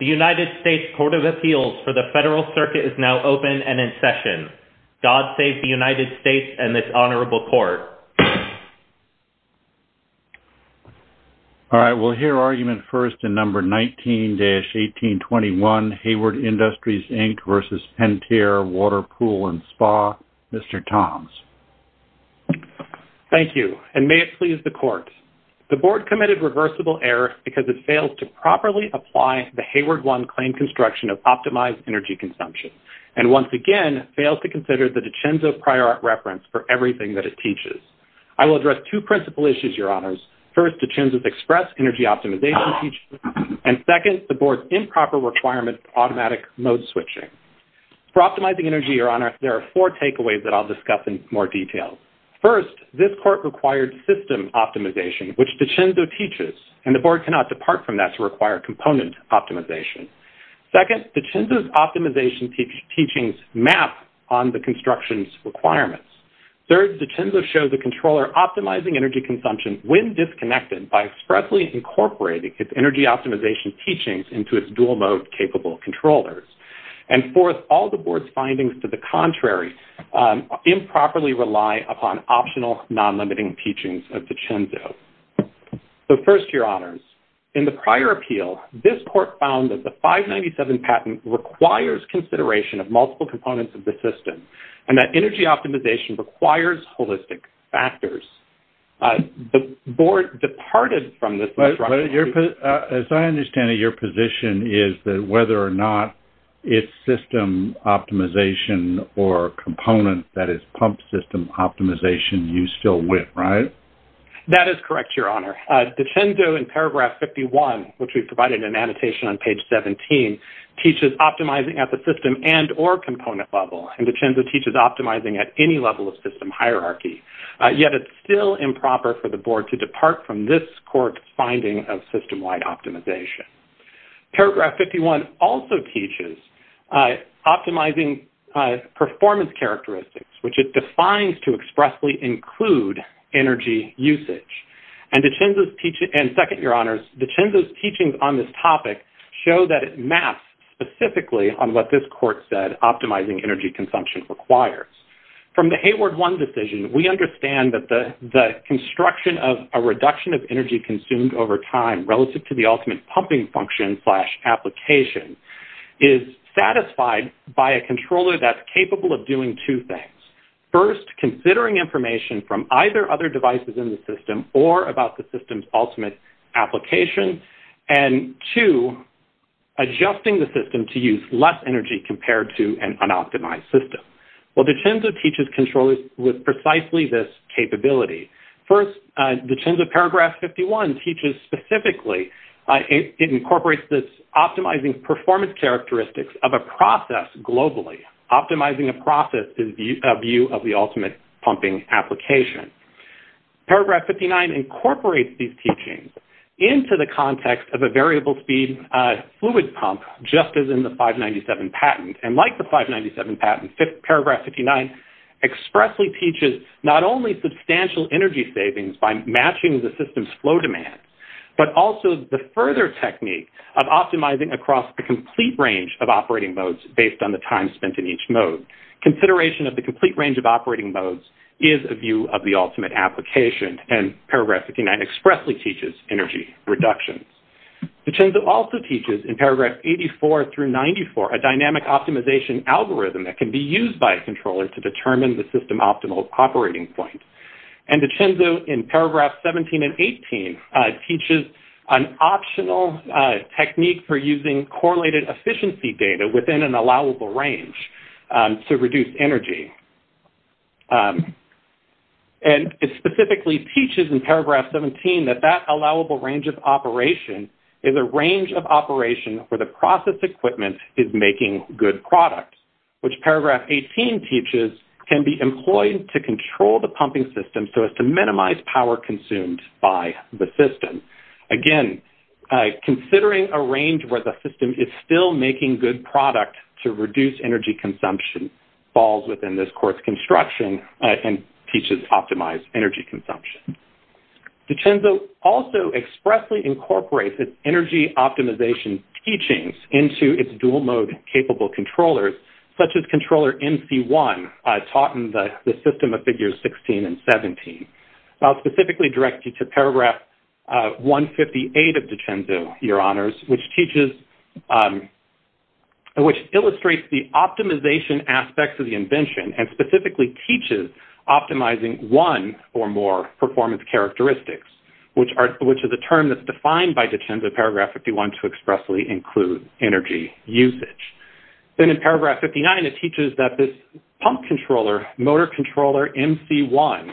The United States Court of Appeals for the Federal Circuit is now open and in session. God save the United States and this honorable court. All right, we'll hear argument first in number 19-1821 Hayward Industries, Inc. v. Pentair Water Pool and Spa. Mr. Toms. Thank you, and may it please the court. The board committed reversible error because it failed to properly apply the Hayward I claim construction of optimized energy consumption. And once again, failed to consider the DiCenso prior art reference for everything that it teaches. I will address two principal issues, Your Honors. First, DiCenso's express energy optimization feature. And second, the board's improper requirement for automatic mode switching. For optimizing energy, Your Honor, there are four takeaways that I'll discuss in more detail. First, this court required system optimization, which DiCenso teaches. And the board cannot depart from that to require component optimization. Second, DiCenso's optimization teachings map on the construction's requirements. Third, DiCenso shows the controller optimizing energy consumption when disconnected by expressly incorporating its energy optimization teachings into its dual mode capable controllers. And fourth, all the board's findings to the contrary improperly rely upon optional non-limiting teachings of DiCenso. So first, Your Honors, in the prior appeal, this court found that the 597 patent requires consideration of multiple components of the system. And that energy optimization requires holistic factors. The board departed from this requirement. As I understand it, your position is that whether or not it's system optimization or component, that is, pump system optimization, you still win, right? That is correct, Your Honor. DiCenso in paragraph 51, which we provided in annotation on page 17, teaches optimizing at the system and or component level. And DiCenso teaches optimizing at any level of system hierarchy. Yet it's still improper for the board to depart from this court's finding of system-wide optimization. Paragraph 51 also teaches optimizing performance characteristics, which it defines to expressly include energy usage. And second, Your Honors, DiCenso's teachings on this topic show that it maps specifically on what this court said optimizing energy consumption requires. From the Hayward One decision, we understand that the construction of a reduction of energy consumed over time relative to the ultimate pumping function slash application is satisfied by a controller that's capable of doing two things. First, considering information from either other devices in the system or about the system's ultimate application. And two, adjusting the system to use less energy compared to an unoptimized system. Well, DiCenso teaches controllers with precisely this capability. First, DiCenso paragraph 51 teaches specifically, it incorporates this optimizing performance characteristics of a process globally. Optimizing a process is a view of the ultimate pumping application. Paragraph 59 incorporates these teachings into the context of a variable speed fluid pump, just as in the 597 patent. And like the 597 patent, paragraph 59 expressly teaches not only substantial energy savings by matching the system's flow demands, but also the further technique of optimizing across the complete range of operating modes based on the time spent in each mode. Consideration of the complete range of operating modes is a view of the ultimate application. And paragraph 59 expressly teaches energy reductions. DiCenso also teaches in paragraph 84 through 94 a dynamic optimization algorithm that can be used by a controller to determine the system optimal operating point. And DiCenso in paragraph 17 and 18 teaches an optional technique for using correlated efficiency data within an allowable range to reduce energy. And it specifically teaches in paragraph 17 that that allowable range of operation is a range of operation where the process equipment is making good products, which paragraph 18 teaches can be employed to control the pumping system so as to minimize power consumed by the system. Again, considering a range where the system is still making good product to reduce energy consumption falls within this course construction and teaches optimized energy consumption. DiCenso also expressly incorporates its energy optimization teachings into its dual mode capable controllers, such as controller MC1 taught in the system of figures 16 and 17. I'll specifically direct you to paragraph 158 of DiCenso, your honors, which illustrates the optimization aspects of the invention and specifically teaches optimizing one or more performance characteristics, which is a term that's defined by DiCenso paragraph 51 to expressly include energy usage. Then in paragraph 59, it teaches that this pump controller, motor controller MC1,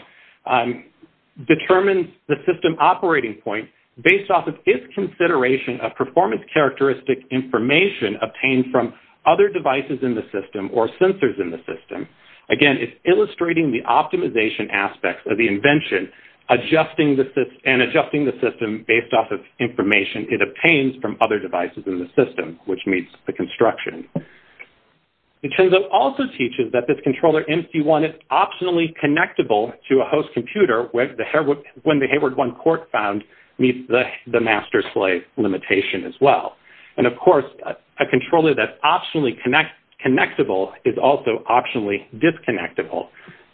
determines the system operating point based off of its consideration of performance characteristic information obtained from other devices in the system or sensors in the system. Again, it's illustrating the optimization aspects of the invention and adjusting the system based off of information it obtains from other devices in the system, which meets the construction. DiCenso also teaches that this controller MC1 is optionally connectable to a host computer when the Hayward-1 cork found meets the master-slave limitation as well. And of course, a controller that's optionally connectable is also optionally disconnectable.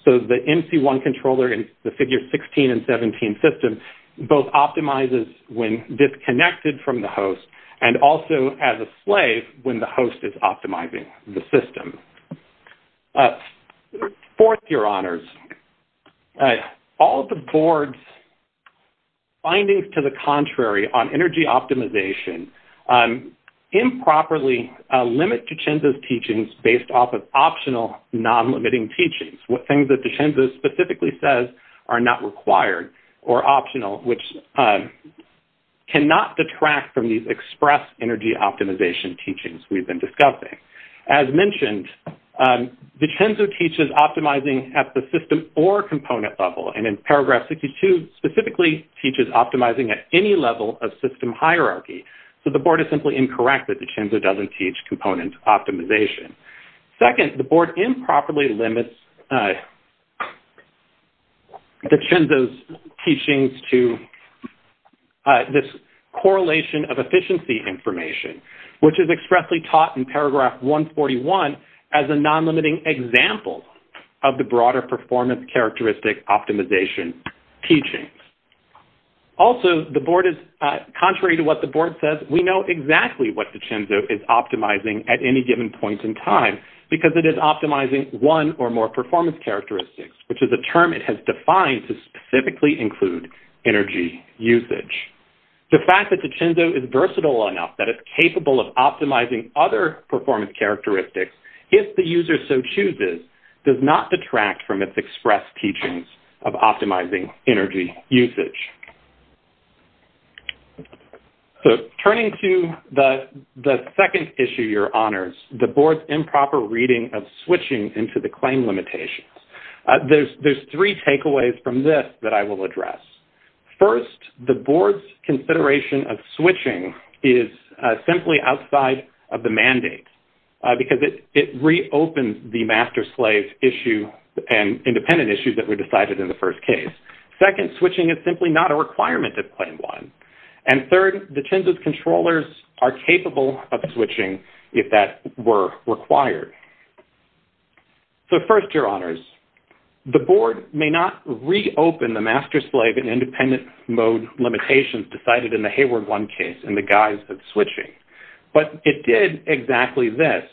So the MC1 controller in the figure 16 and 17 system both optimizes when disconnected from the host and also as a slave when the host is optimizing the system. Fourth, your honors, all of the board's findings to the contrary on energy optimization improperly limit DiCenso's teachings based off of optional non-limiting teachings, things that DiCenso specifically says are not required or optional, which cannot detract from these express energy optimization teachings we've been discussing. As mentioned, DiCenso teaches optimizing at the system or component level and in paragraph 62 specifically teaches optimizing at any level of system hierarchy. So the board is simply incorrect that DiCenso doesn't teach component optimization. Second, the board improperly limits DiCenso's teachings to this correlation of efficiency information, which is expressly taught in paragraph 141 as a non-limiting example of the broader performance characteristic optimization teachings. Also, contrary to what the board says, we know exactly what DiCenso is optimizing at any given point in time because it is optimizing one or more performance characteristics, which is a term it has defined to specifically include energy usage. The fact that DiCenso is versatile enough that it's capable of optimizing other performance characteristics, if the user so chooses, does not detract from its express teachings of optimizing energy usage. So turning to the second issue, your honors, the board's improper reading of switching into the claim limitations. There's three takeaways from this that I will address. First, the board's consideration of switching is simply outside of the mandate because it reopens the master-slave issue and independent issues that were decided in the first case. Second, switching is simply not a requirement of claim one. And third, DiCenso's controllers are capable of switching if that were required. So first, your honors, the board may not reopen the master-slave and independent mode limitations decided in the Hayward One case in the guise of switching, but it did exactly this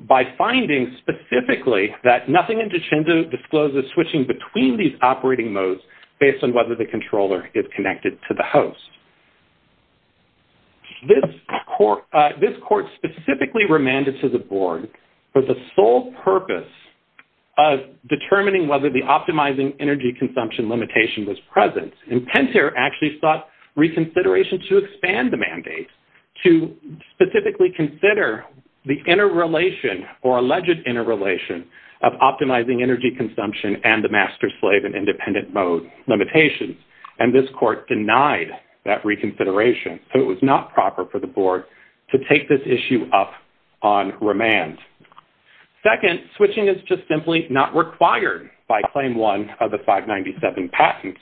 by finding specifically that nothing in DiCenso discloses switching between these operating modes based on whether the controller is connected to the host. This court specifically remanded to the board for the sole purpose of determining whether the optimizing energy consumption limitation was present. And Pentair actually sought reconsideration to expand the mandate to specifically consider the interrelation or alleged interrelation of optimizing energy consumption and the master-slave and independent mode limitations. And this court denied that reconsideration. So it was not proper for the board to take this issue up on remand. Second, switching is just simply not required by claim one of the 597 patent.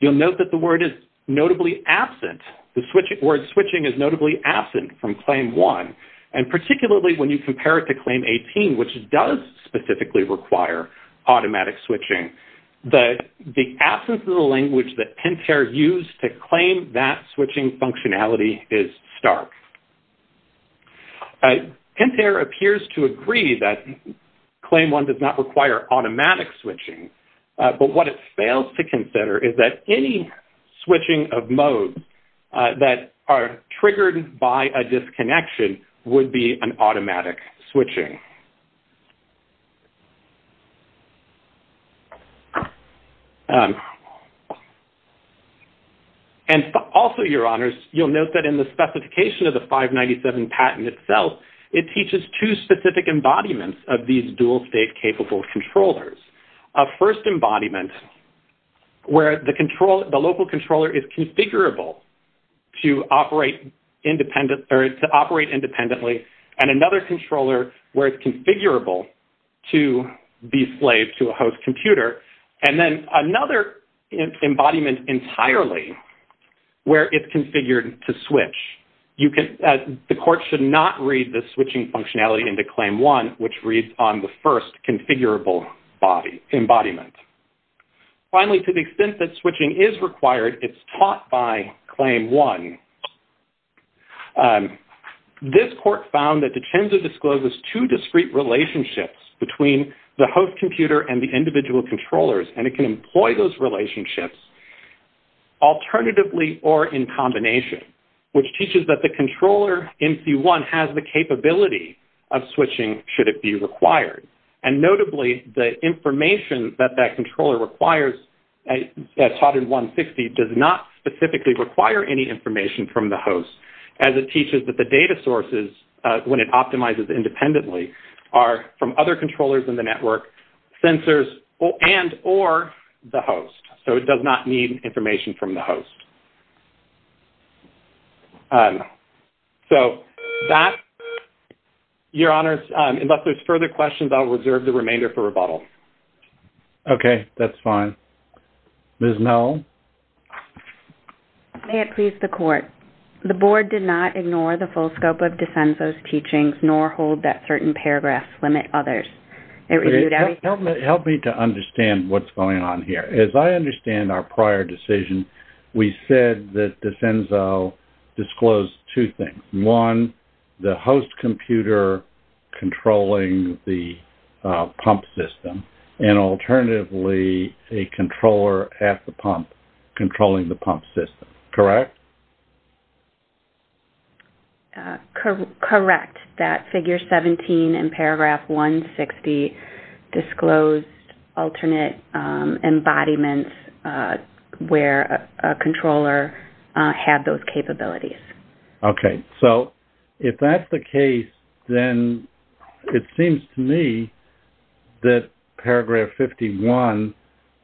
You'll note that the word is notably absent. The word switching is notably absent from claim one, and particularly when you compare it to claim 18, which does specifically require automatic switching. The absence of the language that Pentair used to claim that switching functionality is stark. Pentair appears to agree that claim one does not require automatic switching, but what it fails to consider is that any switching of modes that are triggered by a disconnection would be an automatic switching. And also, your honors, you'll note that in the specification of the 597 patent itself, it teaches two specific embodiments of these dual state capable controllers. A first embodiment where the local controller is configurable to operate independently, and another controller where it's configurable to be slave to a host computer. And then another embodiment entirely where it's configured to switch. The court should not read the switching functionality into claim one, which reads on the first configurable embodiment. Finally, to the extent that switching is required, it's taught by claim one. This court found that Dicenza discloses two discrete relationships between the host computer and the individual controllers, and it can employ those relationships alternatively or in combination, which teaches that the controller in C1 has the capability of switching should it be required. And notably, the information that that controller requires taught in 160 does not specifically require any information from the host, as it teaches that the data sources, when it optimizes independently, are from other controllers in the network, sensors, and or the host. So it does not need information from the host. So that, your honors, unless there's further questions, I'll reserve the remainder for rebuttal. Okay, that's fine. Ms. Mel? May it please the court, the board did not ignore the full scope of Dicenza's teachings, nor hold that certain paragraphs limit others. Help me to understand what's going on here. As I understand our prior decision, we said that Dicenza disclosed two things. One, the host computer controlling the pump system, and alternatively, a controller at the pump controlling the pump system. Correct? Correct, that figure 17 in paragraph 160 disclosed alternate embodiments where a controller had those capabilities. Okay, so if that's the case, then it seems to me that paragraph 51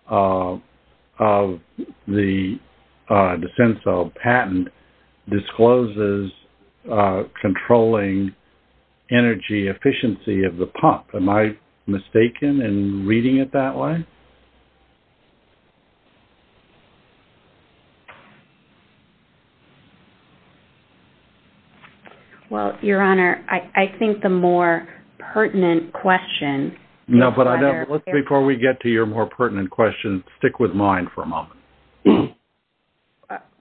of the Dicenza patent discloses controlling energy efficiency of the pump. Am I mistaken in reading it that way? Well, your honor, I think the more pertinent question- No, but before we get to your more pertinent question, stick with mine for a moment.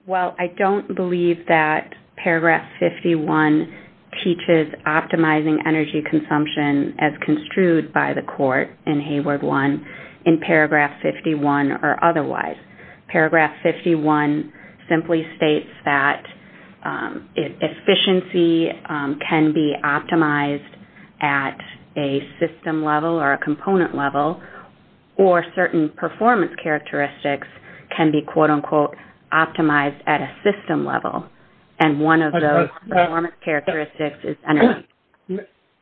Well, I don't believe that paragraph 51 teaches optimizing energy consumption as construed by the court in Hayward 1 in paragraph 51 or otherwise. Paragraph 51 simply states that efficiency can be optimized at a system level or a component level, or certain performance characteristics can be quote unquote optimized at a system level. And one of those performance characteristics is-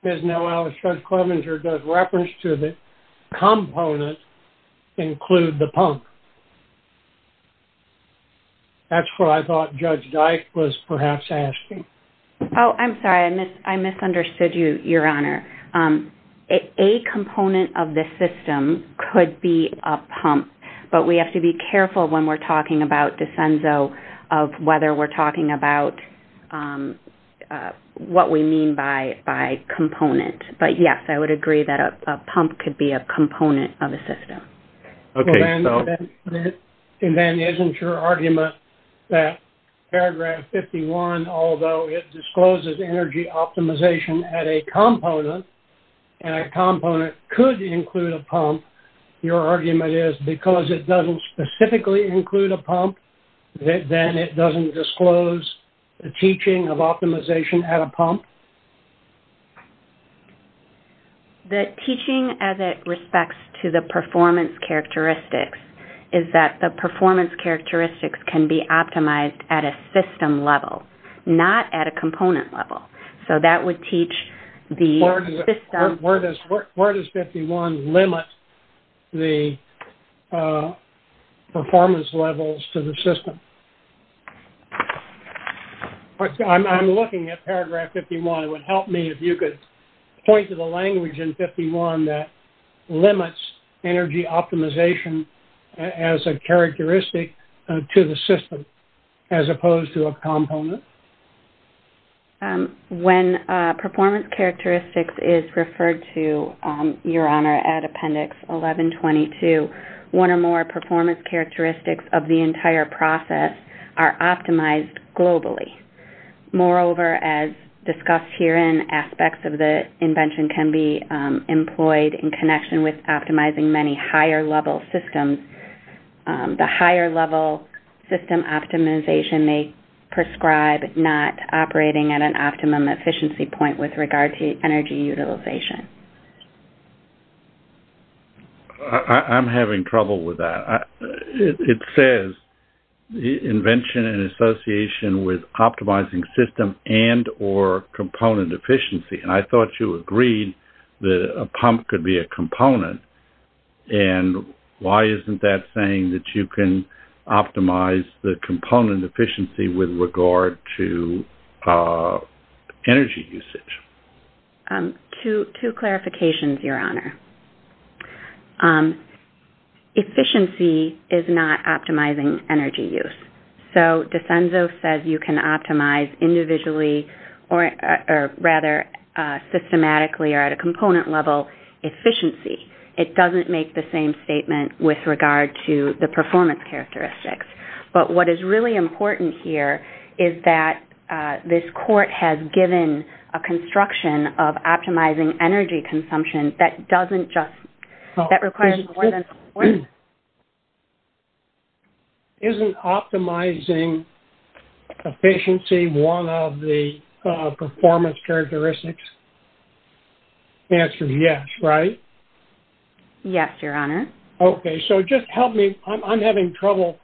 Ms. Noel, Judge Clevenger does reference to the component include the pump. That's what I thought Judge Dyke was perhaps asking. Oh, I'm sorry, I misunderstood you, your honor. A component of the system could be a pump, but we have to be careful when we're talking about Dicenzo of whether we're talking about what we mean by component. But yes, I would agree that a pump could be a component of a system. And then isn't your argument that paragraph 51, although it discloses energy optimization at a component, and a component could include a pump, your argument is because it doesn't specifically include a pump, then it doesn't disclose the teaching of optimization at a pump? The teaching as it respects to the performance characteristics is that the performance characteristics can be optimized at a system level, not at a component level. So that would teach the system- Where does 51 limit the performance levels to the system? I'm looking at paragraph 51. It would help me if you could point to the language in 51 that limits energy optimization as a characteristic to the system, as opposed to a component. When performance characteristics is referred to, your honor, at appendix 1122, one or more performance characteristics of the entire process are optimized globally. Moreover, as discussed herein, aspects of the invention can be employed in connection with optimizing many higher-level systems. The higher-level system optimization may prescribe not operating at an optimum efficiency point with regard to energy utilization. I'm having trouble with that. It says invention in association with optimizing system and or component efficiency. And I thought you agreed that a pump could be a component, and why isn't that saying that you can optimize the component efficiency with regard to energy usage? Two clarifications, your honor. Efficiency is not optimizing energy use. So, DeCenzo says you can optimize individually or rather systematically or at a component level efficiency. It doesn't make the same statement with regard to the performance characteristics. But what is really important here is that this court has given a construction of optimizing energy consumption that doesn't just, that requires more than. Isn't optimizing efficiency one of the performance characteristics? The answer is yes, right? Yes, your honor. Okay. So, just help me. I'm having trouble.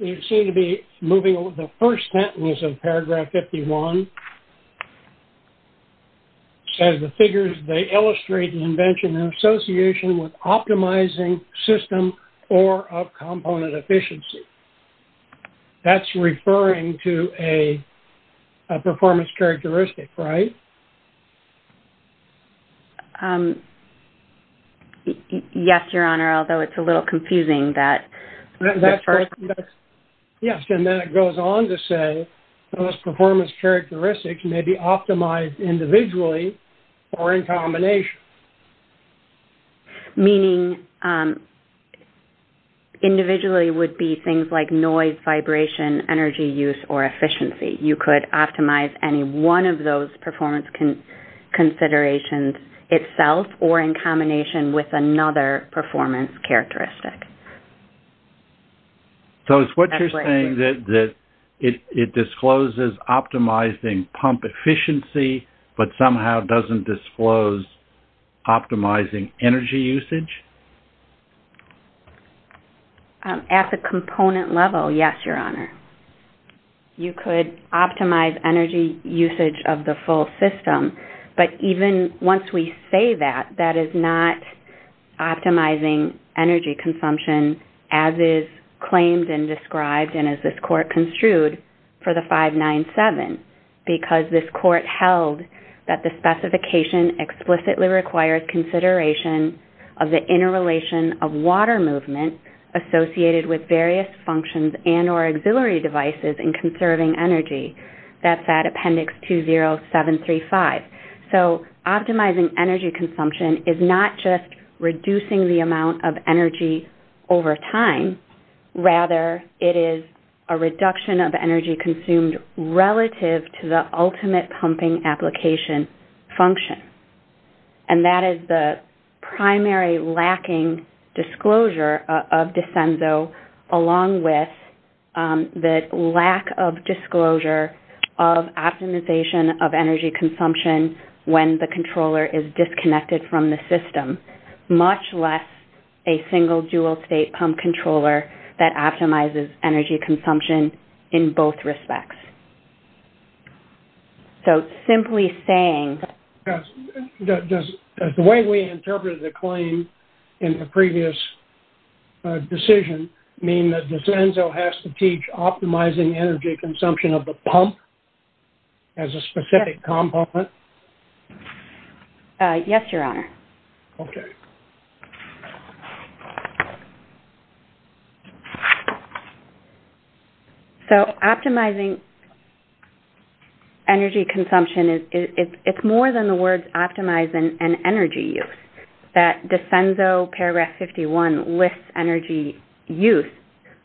You seem to be moving over. The first sentence of paragraph 51 says the figures, they illustrate the invention in association with optimizing system or of component efficiency. That's referring to a performance characteristic, right? Yes, your honor, although it's a little confusing. Yes, and then it goes on to say those performance characteristics may be optimized individually or in combination. Meaning individually would be things like noise, vibration, energy use, or efficiency. You could optimize any one of those performance characteristics. It could be performance considerations itself or in combination with another performance characteristic. So, is what you're saying that it discloses optimizing pump efficiency but somehow doesn't disclose optimizing energy usage? At the component level, yes, your honor. You could optimize energy usage of the full system, but even once we say that, that is not optimizing energy consumption as is claimed and described and as this court construed for the 597. Because this court held that the specification explicitly requires consideration of the interrelation of water movement associated with various functions and or auxiliary devices in conserving energy. That's at appendix 20735. So, optimizing energy consumption is not just reducing the amount of energy over time. Rather, it is a reduction of energy consumed relative to the ultimate pumping application function. And that is the primary lacking disclosure of Desenzo along with the lack of disclosure of optimization of energy consumption when the controller is disconnected from the system. Much less a single dual state pump controller that optimizes energy consumption in both respects. So, simply saying... Does the way we interpreted the claim in the previous decision mean that Desenzo has to teach optimizing energy consumption of the pump as a specific component? Yes, your honor. Okay. So, optimizing energy consumption, it's more than the words optimize and energy use. That Desenzo paragraph 51 lists energy use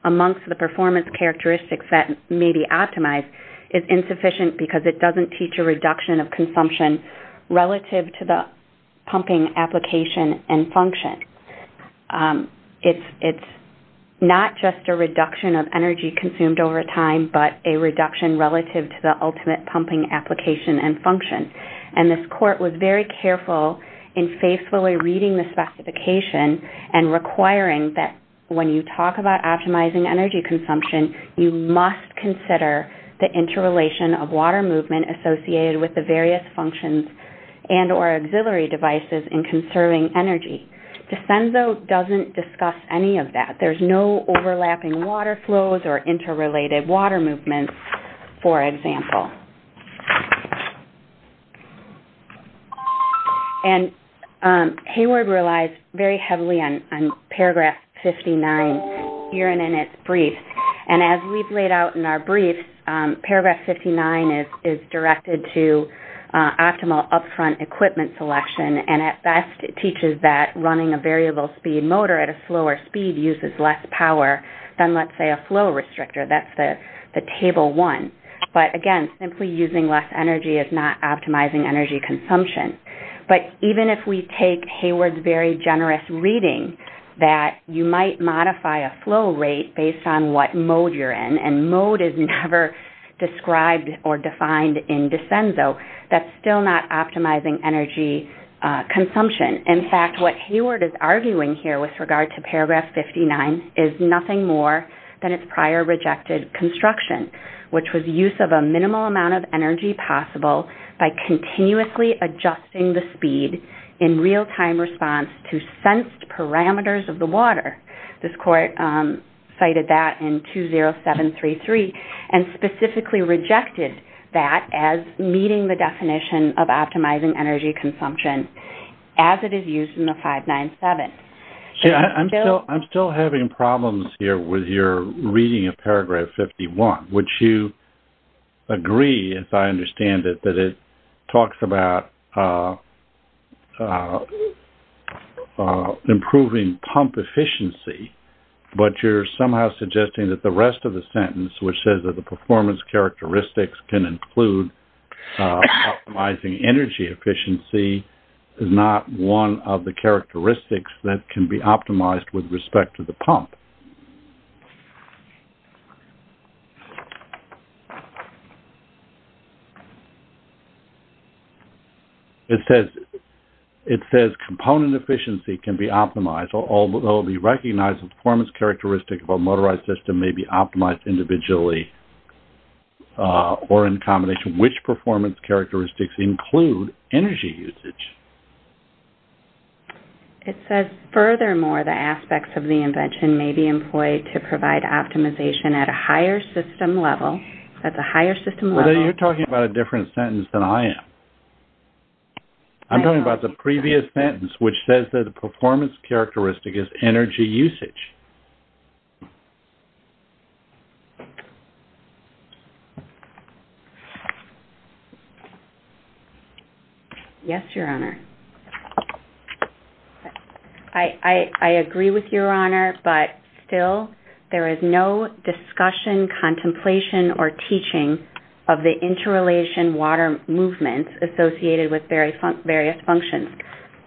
amongst the performance characteristics that may be optimized is insufficient because it doesn't teach a reduction of consumption relative to the pumping application and function. It's not just a reduction of energy consumed over time, but a reduction relative to the ultimate pumping application and function. And this court was very careful in faithfully reading the specification and requiring that when you talk about optimizing energy consumption, you must consider the interrelation of water movement associated with the various functions and or auxiliary devices in conserving energy. Desenzo doesn't discuss any of that. There's no overlapping water flows or interrelated water movements, for example. And Hayward relies very heavily on paragraph 59 here and in its brief. And as we've laid out in our brief, paragraph 59 is directed to optimal upfront equipment selection. And at best, it teaches that running a variable speed motor at a slower speed uses less power than, let's say, a flow restrictor. That's the table one. But again, simply using less energy is not optimizing energy consumption. But even if we take Hayward's very generous reading that you might modify a flow rate based on what mode you're in, and mode is never described or defined in Desenzo, that's still not optimizing energy consumption. In fact, what Hayward is arguing here with regard to paragraph 59 is nothing more than its prior rejected construction, which was use of a minimal amount of energy possible by continuously adjusting the speed in real-time response to sensed parameters of the water. This court cited that in 20733 and specifically rejected that as meeting the definition of optimizing energy consumption as it is used in the 597. I'm still having problems here with your reading of paragraph 51, which you agree, as I understand it, that it talks about improving pump efficiency. But you're somehow suggesting that the rest of the sentence, which says that the performance characteristics can include optimizing energy efficiency, is not one of the characteristics that can be optimized with respect to the pump. It says component efficiency can be optimized, although it will be recognized that the performance characteristics of a motorized system may be optimized individually or in combination. Which performance characteristics include energy usage? It says, furthermore, the aspects of the invention may be employed to provide optimization at a higher system level. You're talking about a different sentence than I am. I'm talking about the previous sentence, which says that the performance characteristic is energy usage. Yes, Your Honor. I agree with Your Honor, but still, there is no discussion, contemplation, or teaching of the interrelation water movement associated with various functions.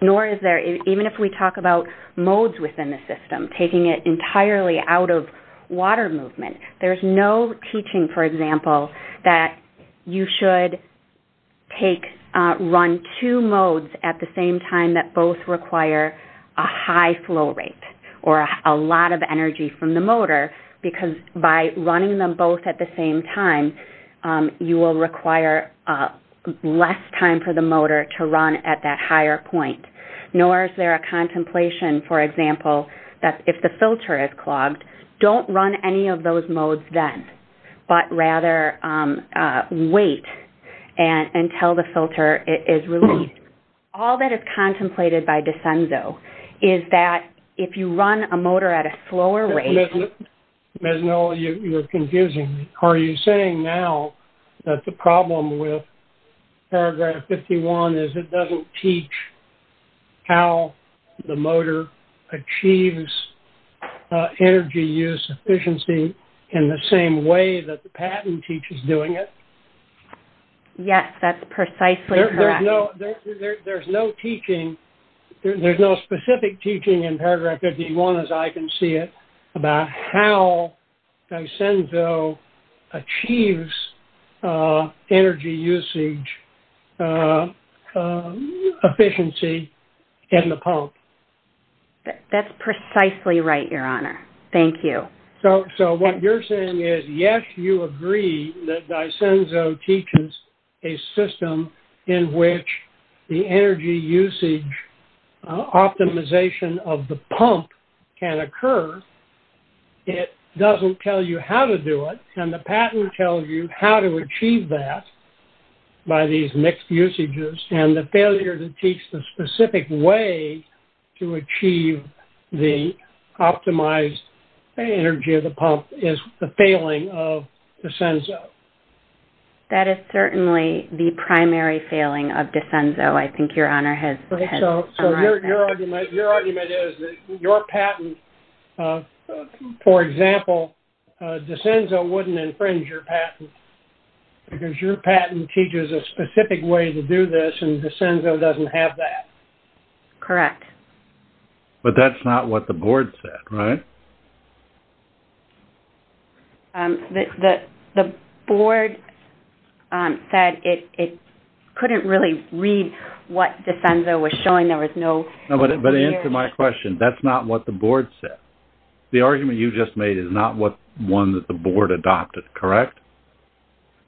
Even if we talk about modes within the system, taking it entirely out of water movement, there's no teaching, for example, that you should run two modes at the same time that both require a high flow rate or a lot of energy from the motor. Because by running them both at the same time, you will require less time for the motor to run at that higher point. Nor is there a contemplation, for example, that if the filter is clogged, don't run any of those modes then, but rather wait until the filter is released. All that is contemplated by Desenzo is that if you run a motor at a slower rate... Ms. Noll, you're confusing me. Are you saying now that the problem with paragraph 51 is it doesn't teach how the motor achieves energy use efficiency in the same way that the patent teaches doing it? Yes, that's precisely correct. There's no specific teaching in paragraph 51, as I can see it, about how Desenzo achieves energy usage efficiency in the pump. That's precisely right, Your Honor. Thank you. So what you're saying is, yes, you agree that Desenzo teaches a system in which the energy usage optimization of the pump can occur. It doesn't tell you how to do it, and the patent tells you how to achieve that by these mixed usages, and the failure to teach the specific way to achieve the optimized energy of the pump is the failing of Desenzo. That is certainly the primary failing of Desenzo, I think Your Honor has arrived at. So your argument is that your patent, for example, Desenzo wouldn't infringe your patent because your patent teaches a specific way to do this, and Desenzo doesn't have that. Correct. But that's not what the board said, right? The board said it couldn't really read what Desenzo was showing. There was no... But to answer my question, that's not what the board said. The argument you just made is not one that the board adopted, correct?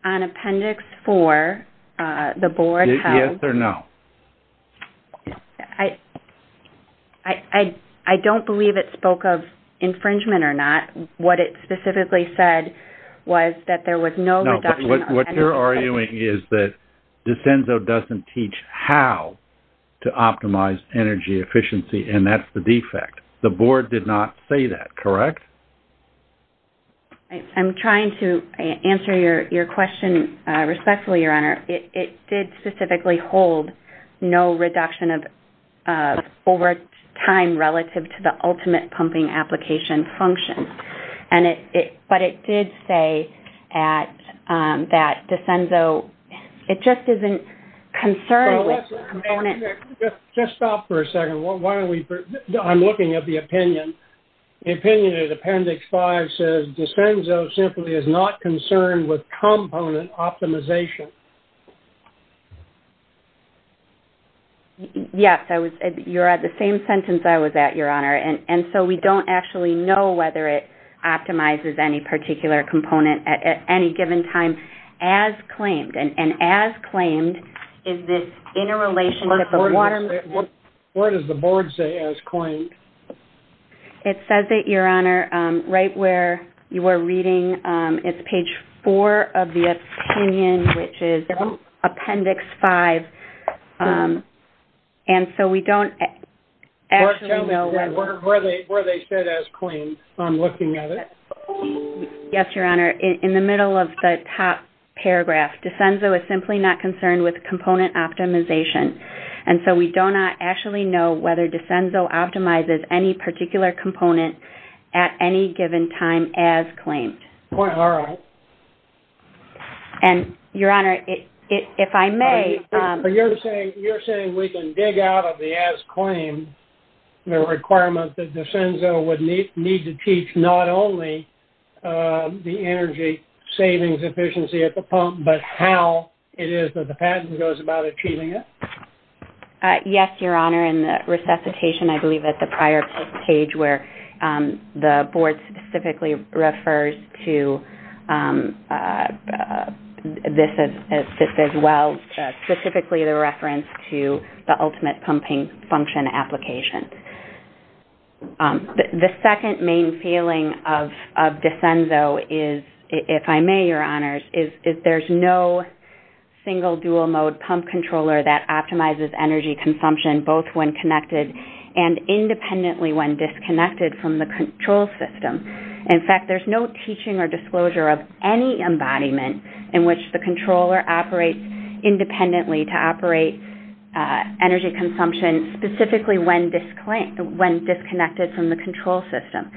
On Appendix 4, the board held... Yes or no? I don't believe it spoke of infringement or not. What it specifically said was that there was no... No, but what you're arguing is that Desenzo doesn't teach how to optimize energy efficiency, and that's the defect. The board did not say that, correct? I'm trying to answer your question respectfully, Your Honor. It did specifically hold no reduction of overtime relative to the ultimate pumping application function. But it did say that Desenzo, it just isn't concerned with... Just stop for a second. I'm looking at the opinion. The opinion in Appendix 5 says Desenzo simply is not concerned with component optimization. Yes. You're at the same sentence I was at, Your Honor. And so we don't actually know whether it optimizes any particular component at any given time as claimed. And as claimed is this interrelationship of water... What does the board say as claimed? It says it, Your Honor, right where you were reading. It's page 4 of the opinion, which is Appendix 5. And so we don't actually know whether... Where they said as claimed. I'm looking at it. Yes, Your Honor. In the middle of the top paragraph, Desenzo is simply not concerned with component optimization. And so we do not actually know whether Desenzo optimizes any particular component at any given time as claimed. All right. And, Your Honor, if I may... You're saying we can dig out of the as claimed, the requirement that Desenzo would need to teach not only the energy savings efficiency at the pump, but how it is that the patent goes about achieving it? Yes, Your Honor. In the resuscitation, I believe, at the prior page where the board specifically refers to this as well, specifically the reference to the ultimate pumping function application. The second main feeling of Desenzo is, if I may, Your Honors, is there's no single dual mode pump controller that optimizes energy consumption both when connected and independently when disconnected from the control system. In fact, there's no teaching or disclosure of any embodiment in which the controller operates independently to operate energy consumption specifically when disconnected from the control system.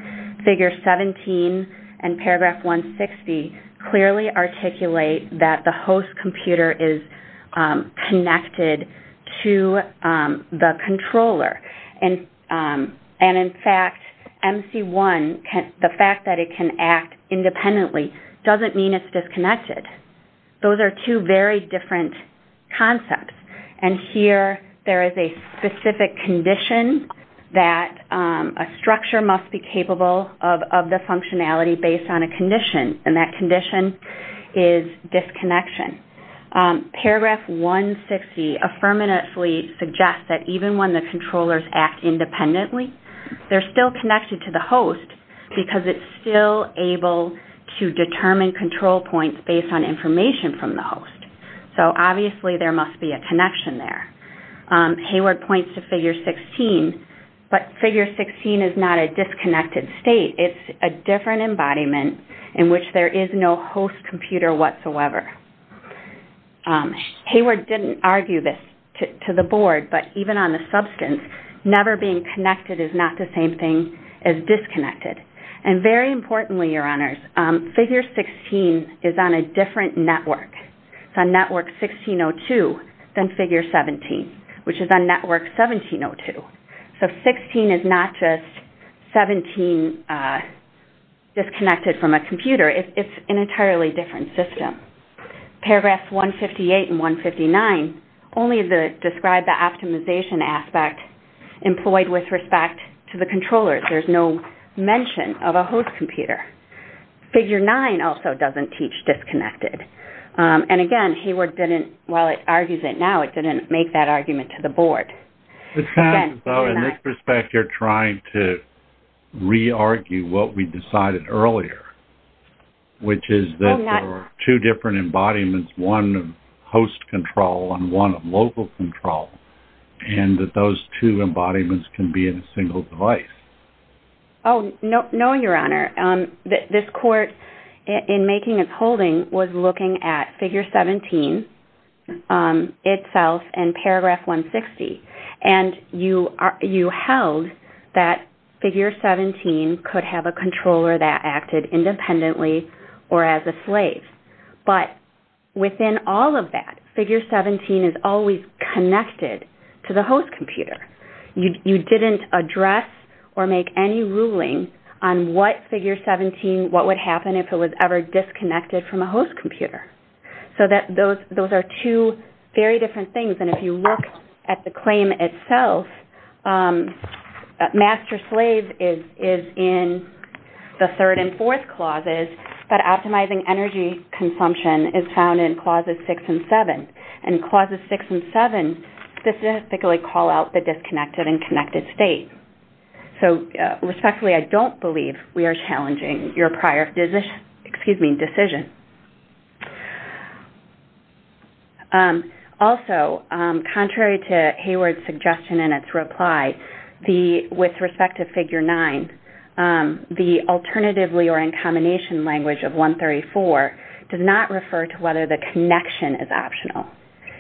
Figure 17 and paragraph 160 clearly articulate that the host computer is connected to the controller. And, in fact, MC1, the fact that it can act independently doesn't mean it's disconnected. Those are two very different concepts. And here, there is a specific condition that a structure must be capable of the functionality based on a condition. And that condition is disconnection. Paragraph 160 affirmatively suggests that even when the controllers act independently, they're still connected to the host because it's still able to determine control points based on information from the host. So, obviously, there must be a connection there. Hayward points to figure 16, but figure 16 is not a disconnected state. It's a different embodiment in which there is no host computer whatsoever. Hayward didn't argue this to the board, but even on the substance, never being connected is not the same thing as disconnected. And very importantly, Your Honors, figure 16 is on a different network. It's on network 1602 than figure 17, which is on network 1702. So, 16 is not just 17 disconnected from a computer. It's an entirely different system. Paragraphs 158 and 159 only describe the optimization aspect employed with respect to the controllers. There's no mention of a host computer. Figure 9 also doesn't teach disconnected. And, again, Hayward didn't, while it argues it now, it didn't make that argument to the board. It sounds as though, in this respect, you're trying to re-argue what we decided earlier, which is that there are two different embodiments, one of host control and one of local control, and that those two embodiments can be in a single device. Oh, no, Your Honor. This court, in making its holding, was looking at figure 17 itself and paragraph 160. And you held that figure 17 could have a controller that acted independently or as a slave. But within all of that, figure 17 is always connected to the host computer. You didn't address or make any ruling on what figure 17, what would happen if it was ever disconnected from a host computer. So, those are two very different things. And if you look at the claim itself, master-slave is in the third and fourth clauses, but optimizing energy consumption is found in clauses 6 and 7. And clauses 6 and 7 specifically call out the disconnected and connected state. So, respectfully, I don't believe we are challenging your prior decision. Also, contrary to Hayward's suggestion in its reply, with respect to figure 9, the alternatively or in combination language of 134 does not refer to whether the connection is optional.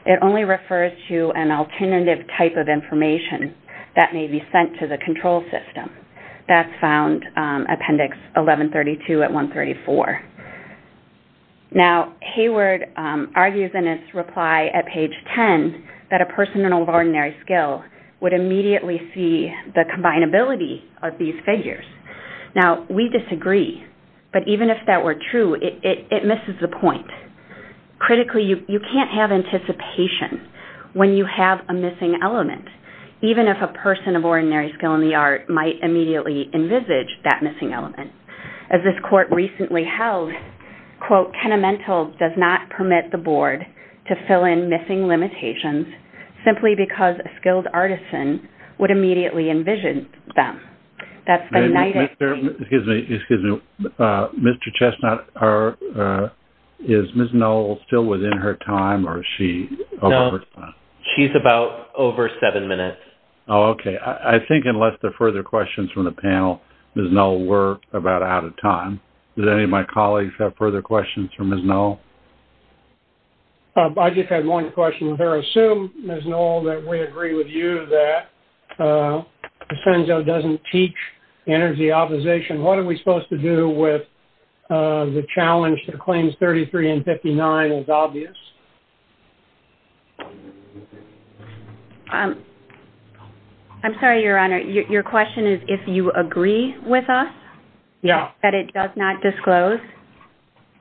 It only refers to an alternative type of information that may be sent to the control system. That's found, Appendix 1132 at 134. Now, Hayward argues in his reply at page 10 that a person of ordinary skill would immediately see the combinability of these figures. Now, we disagree, but even if that were true, it misses the point. Critically, you can't have anticipation when you have a missing element, even if a person of ordinary skill in the art might immediately envisage that missing element. As this court recently held, quote, the Tenemental does not permit the Board to fill in missing limitations simply because a skilled artisan would immediately envision them. That's the United States... Excuse me. Mr. Chestnut, is Ms. Knoll still within her time, or is she over time? No. She's about over seven minutes. Oh, okay. I think unless there are further questions from the panel, Ms. Knoll, we're about out of time. Does any of my colleagues have further questions for Ms. Knoll? I just had one question. I assume, Ms. Knoll, that we agree with you that PASENZO doesn't teach energy optimization. What are we supposed to do with the challenge that claims 33 and 59 is obvious? I'm sorry, Your Honor. Your question is if you agree with us? Yeah. That it does not disclose?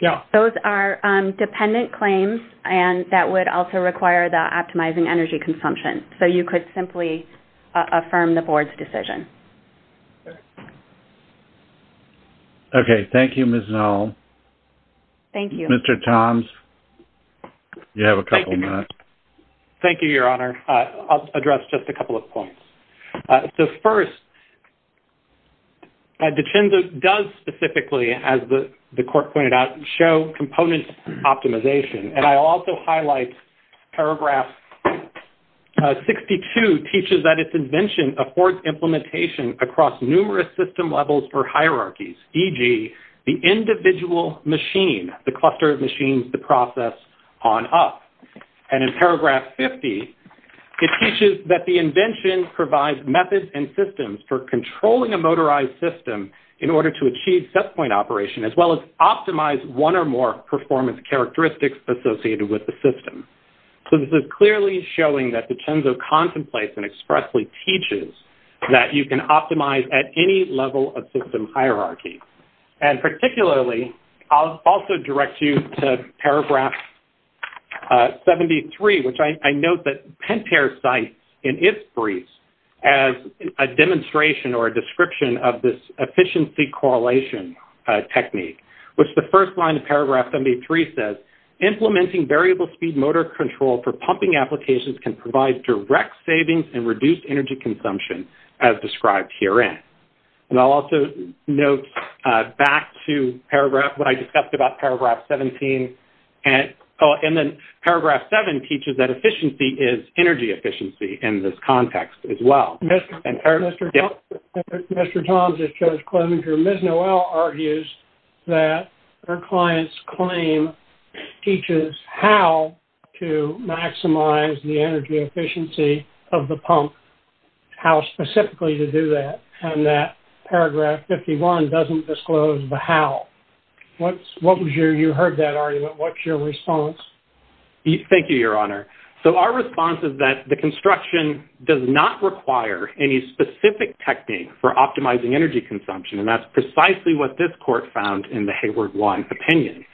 Yeah. Those are dependent claims, and that would also require the optimizing energy consumption. So you could simply affirm the Board's decision. Okay. Thank you, Ms. Knoll. Thank you. Mr. Toms, you have a couple minutes. Thank you, Your Honor. I'll address just a couple of points. So first, the PASENZO does specifically, as the Court pointed out, show component optimization. And I'll also highlight paragraph 62 teaches that its invention affords implementation across numerous system levels or hierarchies, e.g., the individual machine, the cluster of machines, the process, on up. And in paragraph 50, it teaches that the invention provides methods and systems for controlling a motorized system in order to achieve set-point operation, as well as optimize one or more performance characteristics associated with the system. So this is clearly showing that the PASENZO contemplates and expressly teaches that you can optimize at any level of system hierarchy. And particularly, I'll also direct you to paragraph 73, which I note that Pentair cites in its briefs as a demonstration or a description of this efficiency correlation technique, which the first line of paragraph 73 says, implementing variable speed motor control for pumping applications can provide direct savings and reduce energy consumption, as described herein. And I'll also note back to what I discussed about paragraph 17, and then paragraph 7 teaches that efficiency is energy efficiency in this context as well. Mr. Thomson, Judge Klobinger, Ms. Noel argues that her client's claim teaches how to maximize the energy efficiency of the pump, how specifically to do that, and that paragraph 51 doesn't disclose the how. You heard that argument. What's your response? Thank you, Your Honor. So our response is that the construction does not require any specific technique for optimizing energy consumption, and that's precisely what this court found in the Hayward One opinion.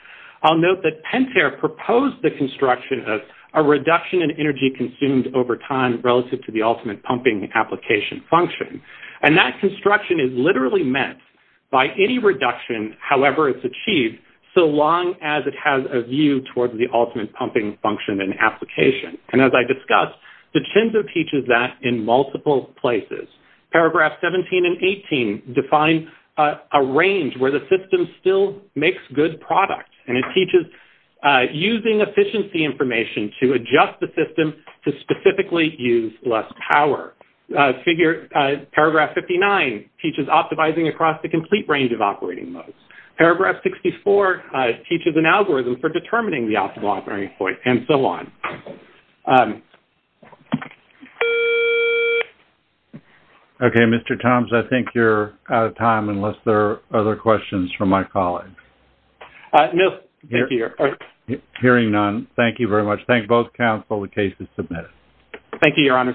I'll note that Pentair proposed the construction of a reduction in energy consumed over time relative to the ultimate pumping application function, and that construction is literally meant by any reduction, however it's achieved, so long as it has a view towards the ultimate pumping function and application. And as I discussed, the CINSA teaches that in multiple places. Paragraph 17 and 18 define a range where the system still makes good product, and it teaches using efficiency information to adjust the system to specifically use less power. Paragraph 59 teaches optimizing across the complete range of operating modes. Paragraph 64 teaches an algorithm for determining the optimal operating point, and so on. Okay, Mr. Thomson, I think you're out of time unless there are other questions from my colleagues. No, thank you, Your Honor. Hearing none, thank you very much. Thank both counsel. The case is submitted. Thank you, Your Honor.